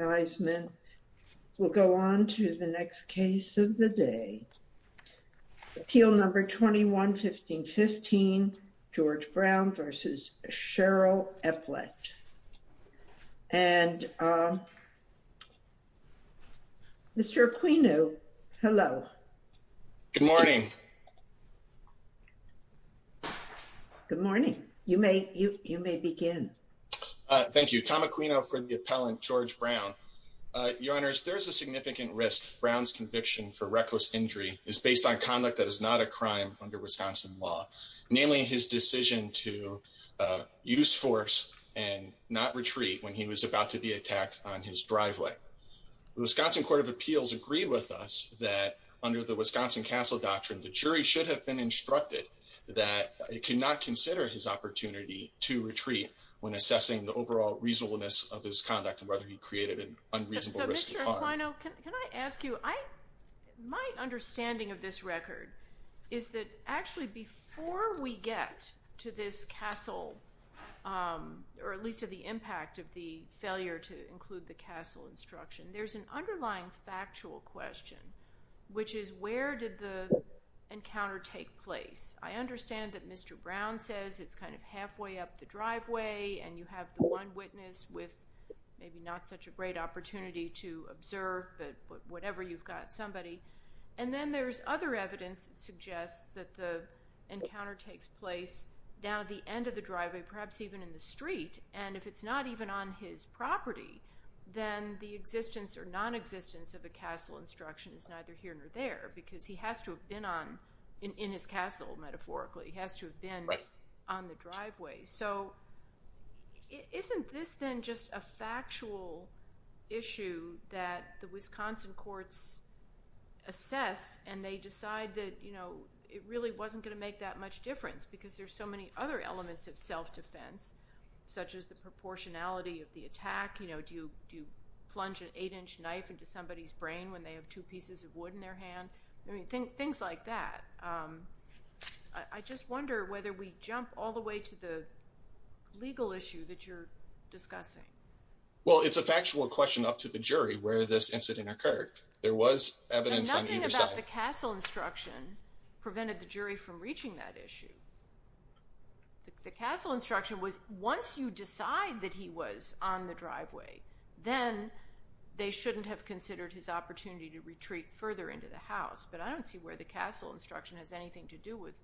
and Mr. Aquino, hello. Good morning. Good morning. You may begin. Thank you. Tom Aquino for the Your honors, there's a significant risk. Brown's conviction for reckless injury is based on conduct that is not a crime under Wisconsin law, namely his decision to use force and not retreat when he was about to be attacked on his driveway. The Wisconsin Court of Appeals agreed with us that under the Wisconsin Castle Doctrine, the jury should have been instructed that it cannot consider his opportunity to retreat when assessing the overall reasonableness of his conduct and whether he created an unreasonable risk of harm. Mr. Aquino, can I ask you, my understanding of this record is that actually before we get to this castle, or at least to the impact of the failure to include the castle instruction, there's an underlying factual question, which is where did the encounter take place? I understand that Mr. Brown says it's kind of halfway up the driveway and you have the one witness with maybe not such a great opportunity to observe, but whatever, you've got somebody. And then there's other evidence that suggests that the encounter takes place down at the end of the driveway, perhaps even in the street, and if it's not even on his property, then the existence or nonexistence of the castle instruction is neither here nor there because he has to have been on, in his castle metaphorically, he has to have been on the driveway. So isn't this then just a factual issue that the Wisconsin courts assess and they decide that it really wasn't going to make that much difference because there's so many other elements of self-defense, such as the proportionality of the attack, do you plunge an eight-inch knife into somebody's brain when they have two pieces of wood in their hand? Things like that. I just wonder whether we jump all the way to the legal issue that you're discussing. Well, it's a factual question up to the jury where this incident occurred. There was evidence on either side. I don't see where the castle instruction prevented the jury from reaching that issue. The castle instruction was once you decide that he was on the driveway, then they shouldn't have considered his opportunity to retreat further into the house, but I don't see where the castle instruction has anything to do with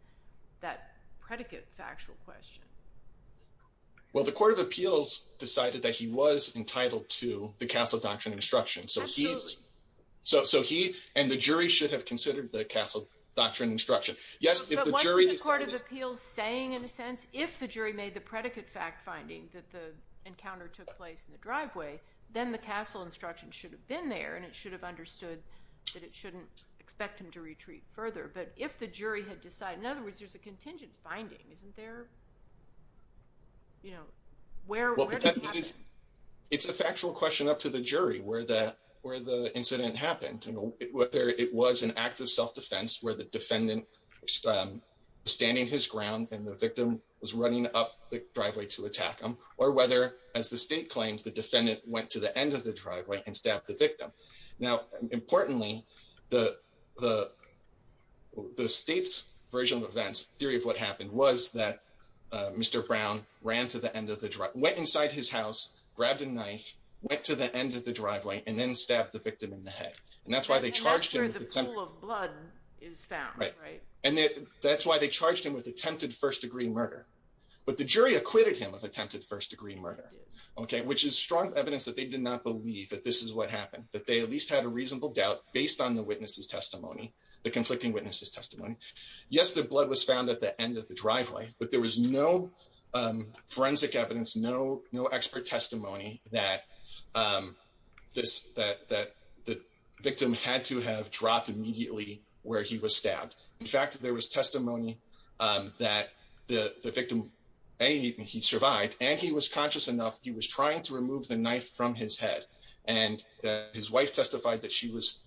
that predicate factual question. Well, the Court of Appeals decided that he was entitled to the castle doctrine instruction, so he and the jury should have considered the castle doctrine instruction. But wasn't the Court of Appeals saying, in a sense, if the jury made the predicate fact finding that the encounter took place in the driveway, then the castle instruction should have been there and it should have understood that it shouldn't expect him to retreat further. But if the jury had decided, in other words, there's a contingent finding, isn't there? Where did it happen? It's a factual question up to the jury where the incident happened, whether it was an act of self-defense where the defendant was standing his ground and the victim was running up the driveway to attack him, or whether, as the state claims, the defendant went to the end of the driveway and stabbed the victim. Now, importantly, the state's version of events, theory of what happened, was that Mr. Brown went inside his house, grabbed a knife, went to the end of the driveway, and then stabbed the victim in the head. And that's why they charged him with attempted first-degree murder. But the jury acquitted him of attempted first-degree murder, which is strong evidence that they did not believe that this is what happened, that they at least had a reasonable doubt based on the witness's testimony, the conflicting witness's testimony. Yes, the blood was found at the end of the driveway, but there was no forensic evidence, no expert testimony that the victim had to have dropped immediately where he was stabbed. In fact, there was testimony that the victim, A, he survived, and he was conscious enough he was trying to remove the knife from his head, and his wife testified that she was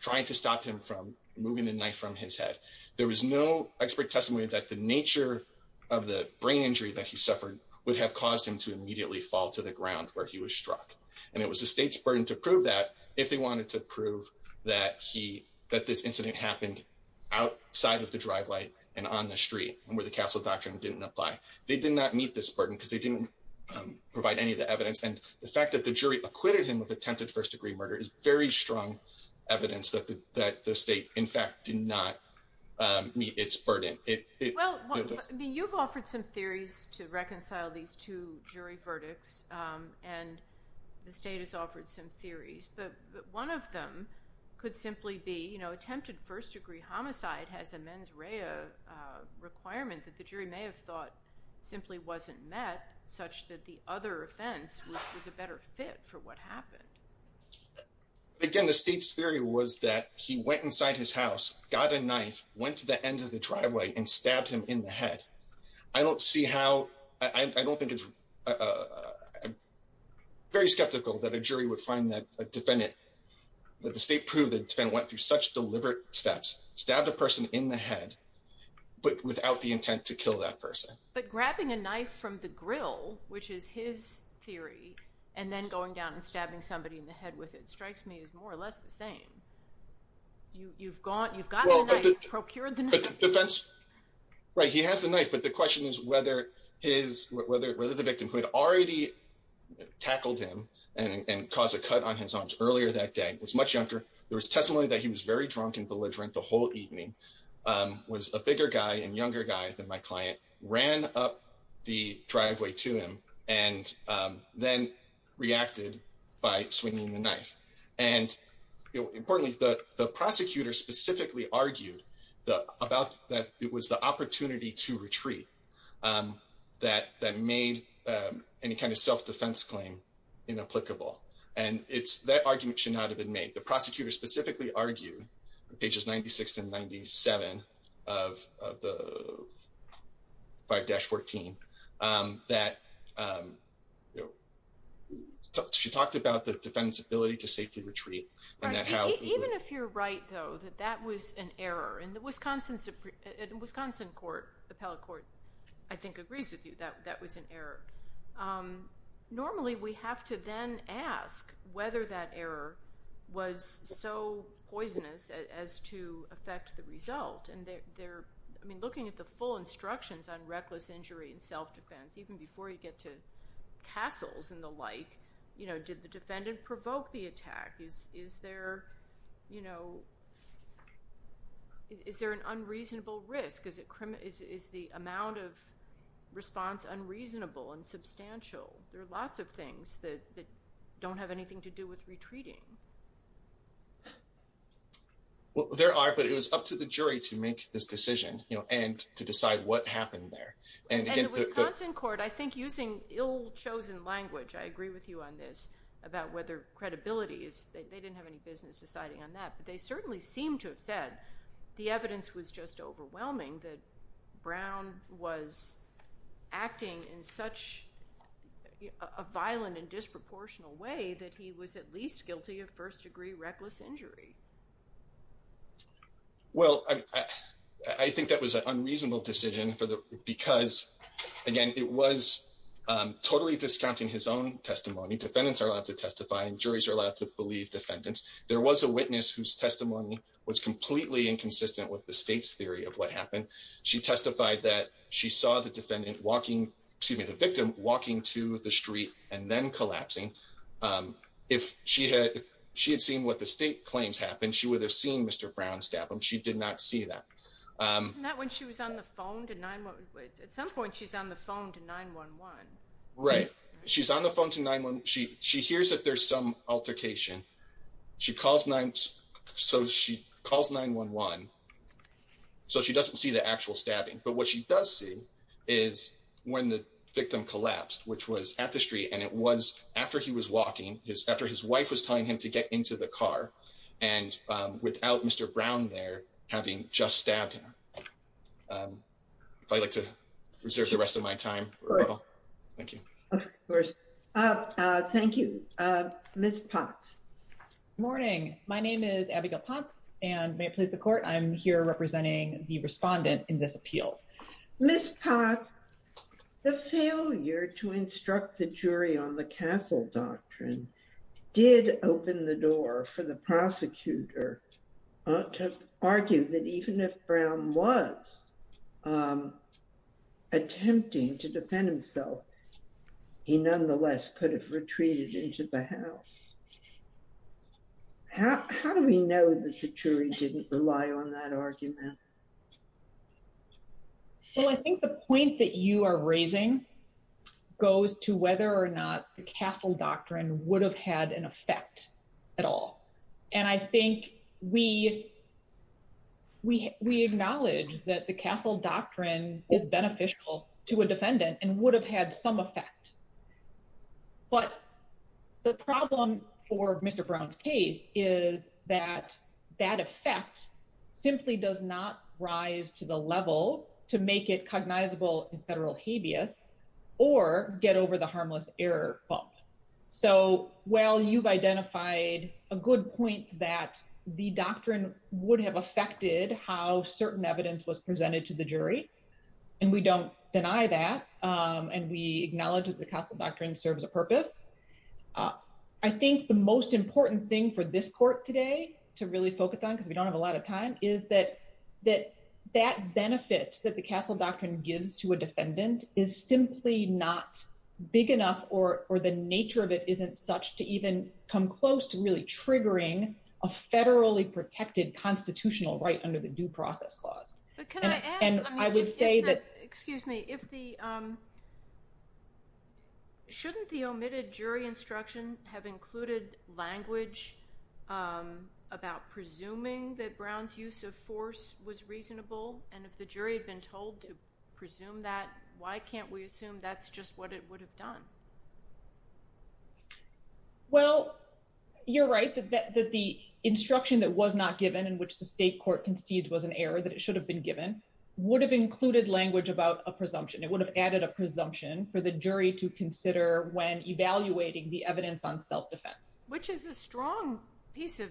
trying to stop him from removing the knife from his head. There was no expert testimony that the nature of the brain injury that he suffered would have caused him to immediately fall to the ground where he was struck. And it was the state's burden to prove that if they wanted to prove that this incident happened outside of the driveway and on the street, and where the Castle Doctrine didn't apply. They did not meet this burden because they didn't provide any of the evidence. And the fact that the jury acquitted him of attempted first-degree murder is very strong evidence that the state, in fact, did not meet its burden. Well, you've offered some theories to reconcile these two jury verdicts, and the state has offered some theories, but one of them could simply be, you know, attempted first-degree homicide has a mens rea requirement that the jury may have thought simply wasn't met, such that the other offense was a better fit for what happened. Again, the state's theory was that he went inside his house, got a knife, went to the end of the driveway and stabbed him in the head. I don't see how, I don't think it's very skeptical that a jury would find that a defendant, that the state proved that went through such deliberate steps, stabbed a person in the head, but without the intent to kill that person. But grabbing a knife from the grill, which is his theory, and then going down and stabbing somebody in the head with it strikes me as more or less the same. You've got the knife, procured the knife. Right, he has the knife, but the question is whether the victim who had already tackled him and caused a cut on his arms earlier that day was much younger. There was testimony that he was very drunk and belligerent the whole evening, was a bigger guy and younger guy than my client, ran up the driveway to him, and then reacted by swinging the knife. Importantly, the prosecutor specifically argued that it was the opportunity to retreat that made any kind of self-defense claim inapplicable. That argument should not have been made. The prosecutor specifically argued, pages 96 and 97 of 5-14, that she talked about the defendant's ability to safely retreat. Even if you're right, though, that that was an error. And the Wisconsin Appellate Court, I think, agrees with you that that was an error. Normally, we have to then ask whether that error was so poisonous as to affect the result. And looking at the full instructions on reckless injury and self-defense, even before you get to tassels and the like, did the defendant provoke the attack? Is there an unreasonable risk? Is the amount of response unreasonable and substantial? There are lots of things that don't have anything to do with retreating. There are, but it was up to the jury to make this decision and to decide what happened there. And the Wisconsin court, I think, using ill-chosen language, I agree with you on this, about whether credibility is—they didn't have any business deciding on that. They certainly seem to have said the evidence was just overwhelming, that Brown was acting in such a violent and disproportional way that he was at least guilty of first-degree reckless injury. Well, I think that was an unreasonable decision because, again, it was totally discounting his own testimony. Defendants are allowed to testify, and juries are allowed to believe defendants. There was a witness whose testimony was completely inconsistent with the state's theory of what happened. She testified that she saw the victim walking to the street and then collapsing. If she had seen what the state claims happened, she would have seen Mr. Brown stab him. She did not see that. Wasn't that when she was on the phone to 911? At some point, she's on the phone to 911. Right. She's on the phone to 911. She hears that there's some altercation. She calls 911, so she doesn't see the actual stabbing. But what she does see is when the victim collapsed, which was at the street, and it was after he was walking, after his wife was telling him to get into the car, and without Mr. Brown there having just stabbed him. If I'd like to reserve the rest of my time. Thank you. Of course. Thank you. Ms. Potts. Good morning. My name is Abigail Potts, and may it please the court, I'm here representing the respondent in this appeal. Ms. Potts, the failure to instruct the jury on the castle doctrine did open the door for the prosecutor to argue that even if Brown was attempting to defend himself, he nonetheless could have retreated into the house. How do we know that the jury didn't rely on that argument? Well, I think the point that you are raising goes to whether or not the castle doctrine would have had an effect at all. And I think we, we, we acknowledge that the castle doctrine is beneficial to a defendant and would have had some effect. But the problem for Mr. Brown's case is that that effect simply does not rise to the level to make it cognizable in federal habeas, or get over the harmless error bump. So, well you've identified a good point that the doctrine would have affected how certain evidence was presented to the jury. And we don't deny that. And we acknowledge that the castle doctrine serves a purpose. I think the most important thing for this court today to really focus on because we don't have a lot of time is that that that benefit that the castle doctrine gives to a defendant is simply not big enough or or the nature of it isn't such to even come close to really triggering a federally protected constitutional right under the due process clause. And I would say that, excuse me, if the shouldn't the omitted jury instruction have included language about presuming that Brown's use of force was reasonable. And if the jury had been told to presume that, why can't we assume that's just what it would have done. Well, you're right that that that the instruction that was not given in which the state court concedes was an error that it should have been given would have included language about a presumption it would have added a presumption for the jury to consider when evaluating the evidence on self defense, which is a strong piece of.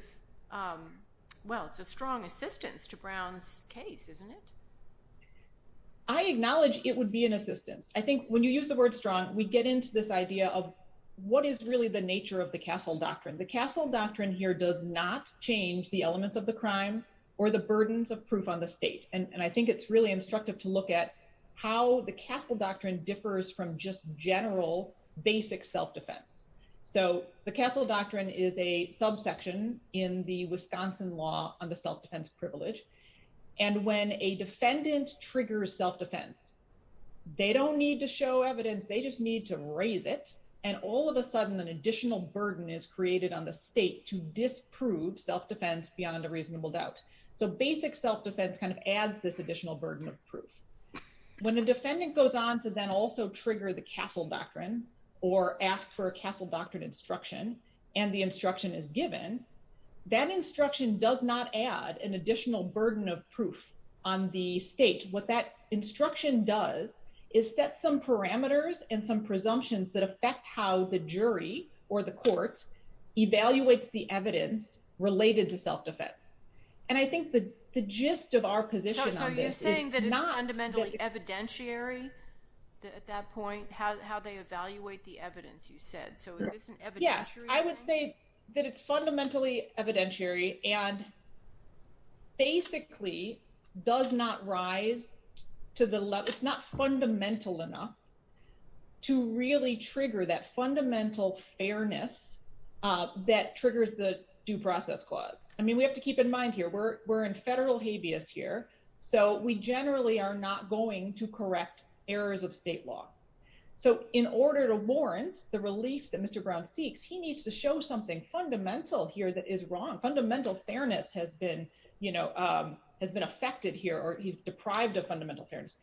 Well, it's a strong assistance to Brown's case, isn't it. I acknowledge it would be an assistance. I think when you use the word strong we get into this idea of what is really the nature of the castle doctrine the castle doctrine here does not change the elements of the crime or the burdens of proof on the state, and I think it's really instructive to look at how the castle doctrine differs from just general basic self defense. So, the castle doctrine is a subsection in the Wisconsin law on the self defense privilege. And when a defendant triggers self defense. They don't need to show evidence they just need to raise it, and all of a sudden an additional burden is created on the state to disprove self defense beyond a reasonable doubt. So basic self defense kind of adds this additional burden of proof. When a defendant goes on to then also trigger the castle doctrine, or ask for a castle doctrine instruction, and the instruction is given that instruction does not add an additional burden of proof on the state what that instruction does is set some parameters and some evidentiary. At that point, how they evaluate the evidence you said so yeah, I would say that it's fundamentally evidentiary, and basically does not rise to the level it's not fundamental enough to really trigger that fundamental fairness. That triggers the due process clause, I mean we have to keep in mind here we're, we're in federal habeas here. So we generally are not going to correct errors of state law. So, in order to warrant the relief that Mr Brown seeks he needs to show something fundamental here that is wrong fundamental fairness has been, you know, has been affected here or he's deprived of fundamental fairness.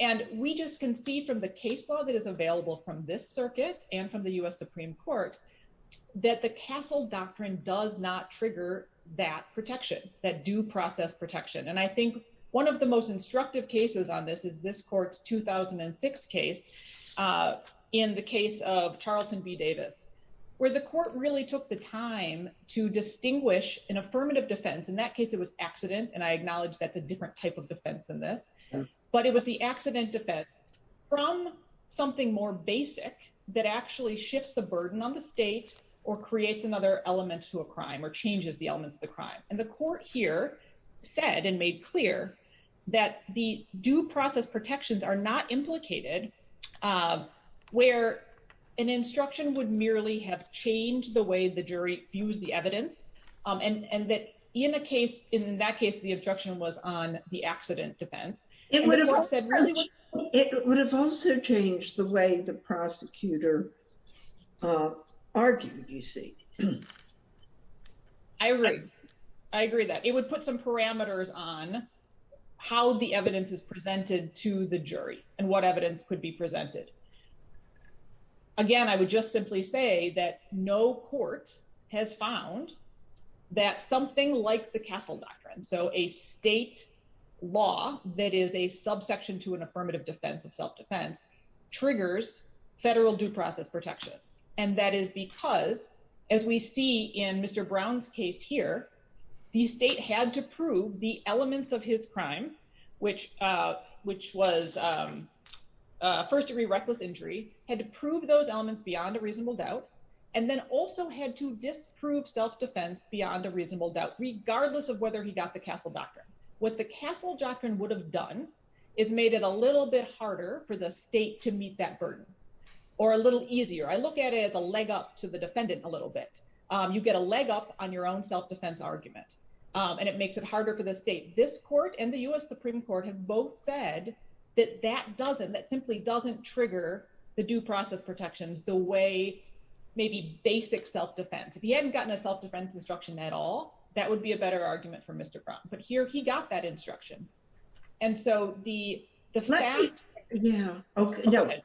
And we just can see from the case law that is available from this circuit, and from the US Supreme Court, that the castle doctrine does not trigger that protection that due process protection and I think one of the most instructive cases on this is this court's 2006 case. In the case of Charlton be Davis, where the court really took the time to distinguish an affirmative defense in that case it was accident and I acknowledge that's a different type of defense than this. But it was the accident defense from something more basic that actually shifts the burden on the state, or creates another element to a crime or changes the elements of the crime, and the court here said and made clear that the due process protections are not implicated, where an instruction would merely have changed the way the jury views the evidence, and that in a case in that case the instruction was on the accident defense. It would have also changed the way the prosecutor argued you see. I agree. I agree that it would put some parameters on how the evidence is presented to the jury, and what evidence could be presented. Again, I would just simply say that no court has found that something like the castle doctrine so a state law that is a subsection to an affirmative defense of self defense triggers federal due process protections, and that is because, as we see in Mr. Brown's case here, the state had to prove the elements of his crime, which, which was first degree reckless injury, had to prove those elements beyond a reasonable doubt, and then also had to disprove self defense beyond a reasonable doubt regardless of argument, and it makes it harder for the state this court and the US Supreme Court have both said that that doesn't that simply doesn't trigger the due process protections, the way, maybe basic self defense if he hadn't gotten a self defense instruction at all, that would be a better argument for Mr. Brown, but here he got that instruction. And so the, the fact. Yeah. Okay.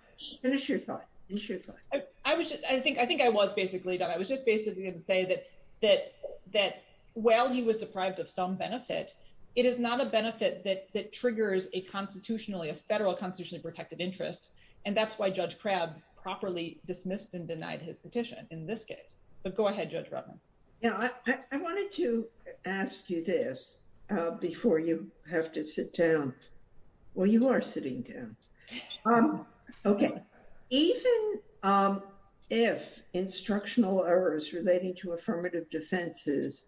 I wish I think I think I was basically done I was just basically didn't say that, that, that, well he was deprived of some benefit. It is not a benefit that that triggers a constitutionally a federal constitution protected interest. And that's why Judge crab properly dismissed and denied his petition in this case, but go ahead, Judge Robin. Yeah, I wanted to ask you this before you have to sit down. Well, you are sitting down. Okay. Even if instructional errors relating to affirmative defenses.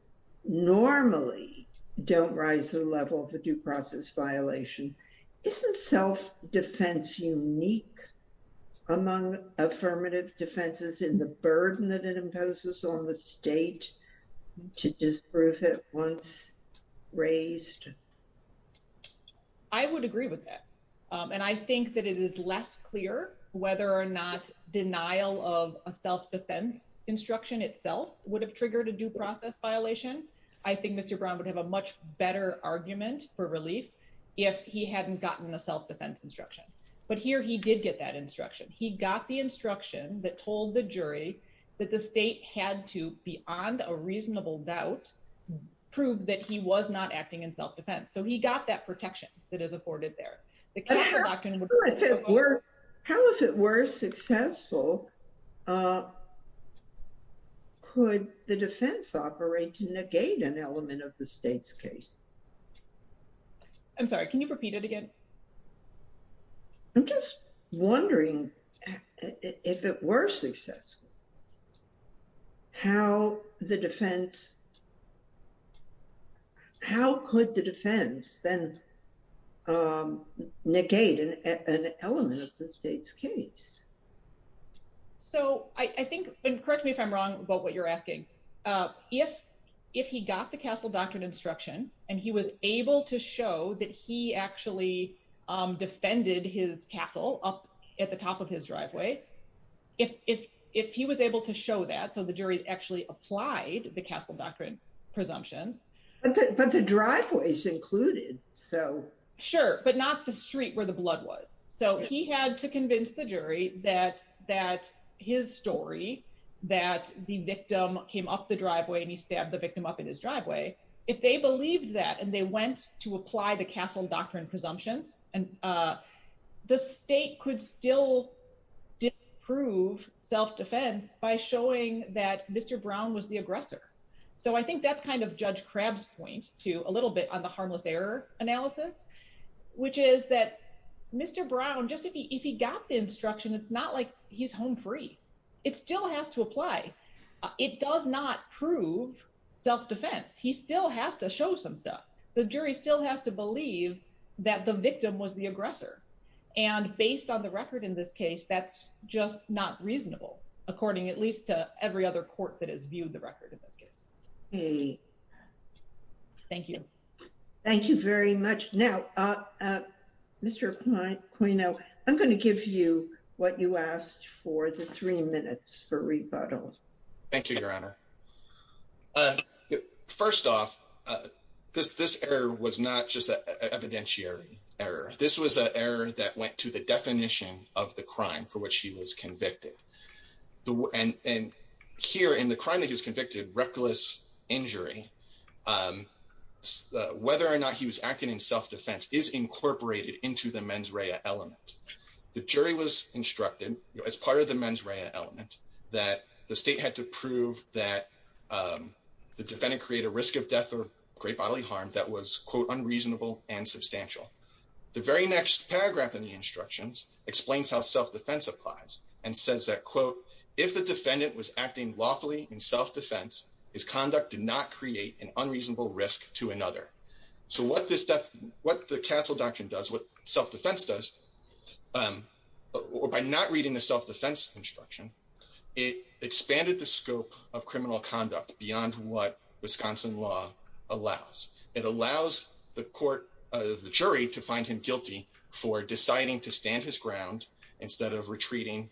Normally, don't rise to the level of the due process violation isn't self defense unique among affirmative defenses in the burden that it imposes on the state to disprove it once raised. I would agree with that. And I think that it is less clear whether or not denial of a self defense instruction itself would have triggered a due process violation. I think Mr Brown would have a much better argument for relief. If he hadn't gotten the self defense instruction, but here he did get that instruction he got the instruction that told the jury that the state had to be on a reasonable doubt, prove that he was not acting in self defense so he got that protection that is afforded there. How if it were successful. Could the defense operate to negate an element of the state's case. I'm sorry, can you repeat it again. I'm just wondering if it were successful. How the defense. How could the defense, then, negate an element of the state's case. So, I think, correct me if I'm wrong about what you're asking. If, if he got the castle doctrine instruction, and he was able to show that he actually defended his castle up at the top of his driveway. If, if, if he was able to show that so the jury actually applied the castle doctrine presumptions. But the driveways included. So, sure, but not the street where the blood was so he had to convince the jury that that his story that the victim came up the driveway and he stabbed the victim up in his driveway. If they believed that and they went to apply the castle doctrine presumptions, and the state could still prove self defense by showing that Mr Brown was the aggressor. So I think that's kind of judge crabs point to a little bit on the harmless error analysis, which is that Mr Brown just if he got the instruction it's not like he's home free. It still has to apply. It does not prove self defense, he still has to show some stuff, the jury still has to believe that the victim was the aggressor. And based on the record in this case that's just not reasonable, according at least to every other court that has viewed the record in this case. Thank you. Thank you very much. Now, Mr. I'm going to give you what you asked for the three minutes for rebuttal. First off, this this error was not just an evidentiary error. This was an error that went to the definition of the crime for which he was convicted. And here in the crime that he was convicted reckless injury, whether or not he was acting in self defense is incorporated into the mens rea element. The jury was instructed as part of the mens rea element that the state had to prove that the defendant create a risk of death or great bodily harm that was quote unreasonable and substantial. The very next paragraph in the instructions explains how self defense applies and says that quote, if the defendant was acting lawfully in self defense is conduct did not create an unreasonable risk to another. So what this stuff, what the castle doctrine does what self defense does, or by not reading the self defense instruction. It expanded the scope of criminal conduct beyond what Wisconsin law allows it allows the court, the jury to find him guilty for deciding to stand his ground, instead of retreating,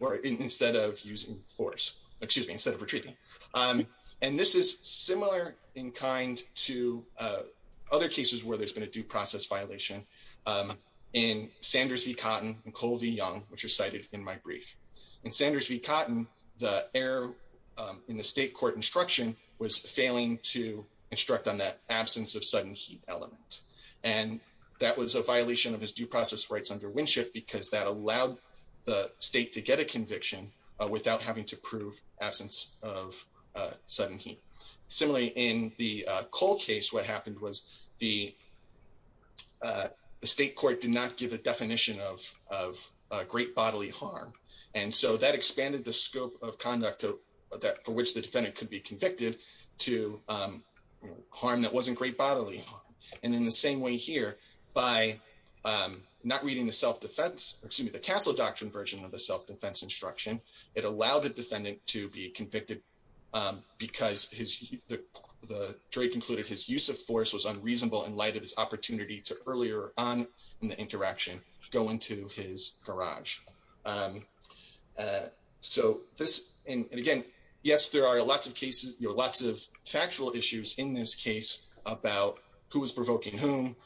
or instead of using force, excuse me instead of retreating. And this is similar in kind to other cases where there's been a due process violation in Sanders v cotton and Colby young, which are cited in my brief and Sanders v cotton, the air in the state court instruction was failing to instruct on that absence of sudden heat element. And that was a violation of his due process rights under Winship because that allowed the state to get a conviction, without having to prove absence of sudden heat. Similarly, in the cold case what happened was the state court did not give a definition of of great bodily harm. And so that expanded the scope of conduct to that for which the defendant could be convicted to harm that wasn't great bodily. And in the same way here by not reading the self defense, or excuse me the castle doctrine version of the self defense instruction, it allowed the defendant to be convicted, because the jury concluded his use of force was unreasonable in light of his opportunity to earlier on in the interaction, go into his garage. So this, and again, yes, there are lots of cases, you're lots of factual issues in this case about who was provoking whom,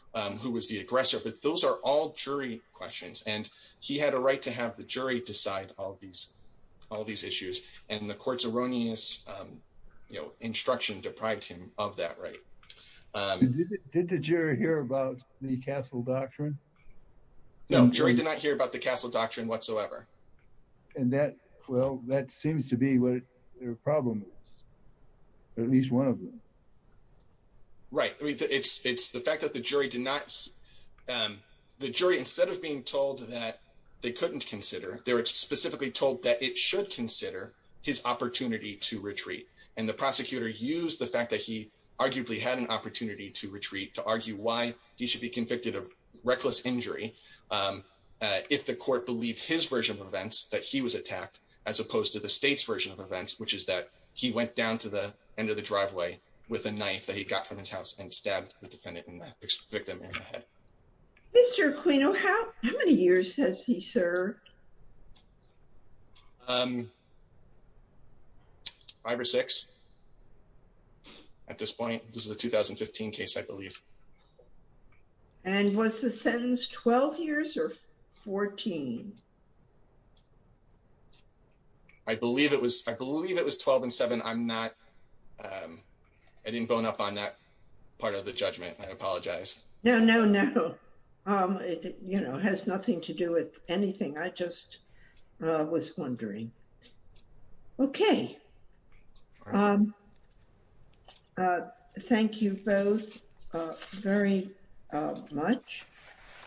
who was the aggressor but those are all jury questions and he had a right to have the jury decide all these, all these issues, and the courts erroneous, you know, instruction deprived him of that right. Did the jury hear about the castle doctrine. No jury did not hear about the castle doctrine whatsoever. And that, well, that seems to be what their problem is, at least one of them. Right. It's, it's the fact that the jury did not. The jury instead of being told that they couldn't consider their specifically told that it should consider his opportunity to retreat, and the prosecutor use the fact that he arguably had an opportunity to retreat to argue why he should be convicted of reckless injury. If the court believed his version of events that he was attacked, as opposed to the state's version of events, which is that he went down to the end of the driveway with a knife that he got from his house and stabbed the defendant in the head. Mr. Queen. Oh, how many years has he, sir. Five or six. At this point, this is a 2015 case, I believe. And was the sentence 12 years or 14. I believe it was, I believe it was 12 and seven I'm not. I didn't bone up on that part of the judgment, I apologize. No, no, no. You know, has nothing to do with anything I just was wondering. Okay. Thank you both very much.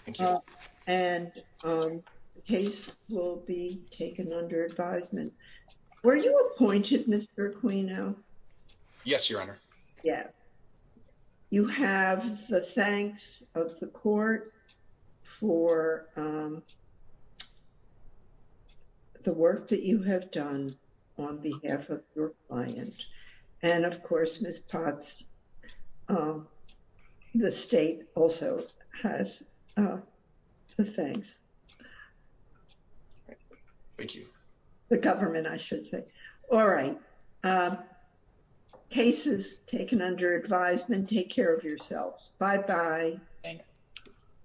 Thank you. And the case will be taken under advisement. Were you appointed Mr. Queen now. Yes, Your Honor. Yeah. You have the thanks of the court for the work that you have done on behalf of your client. And of course, Miss Potts. The state also has. Thanks. Thank you. The government I should say. All right. Case is taken under advisement. Take care of yourselves. Bye bye. Thanks.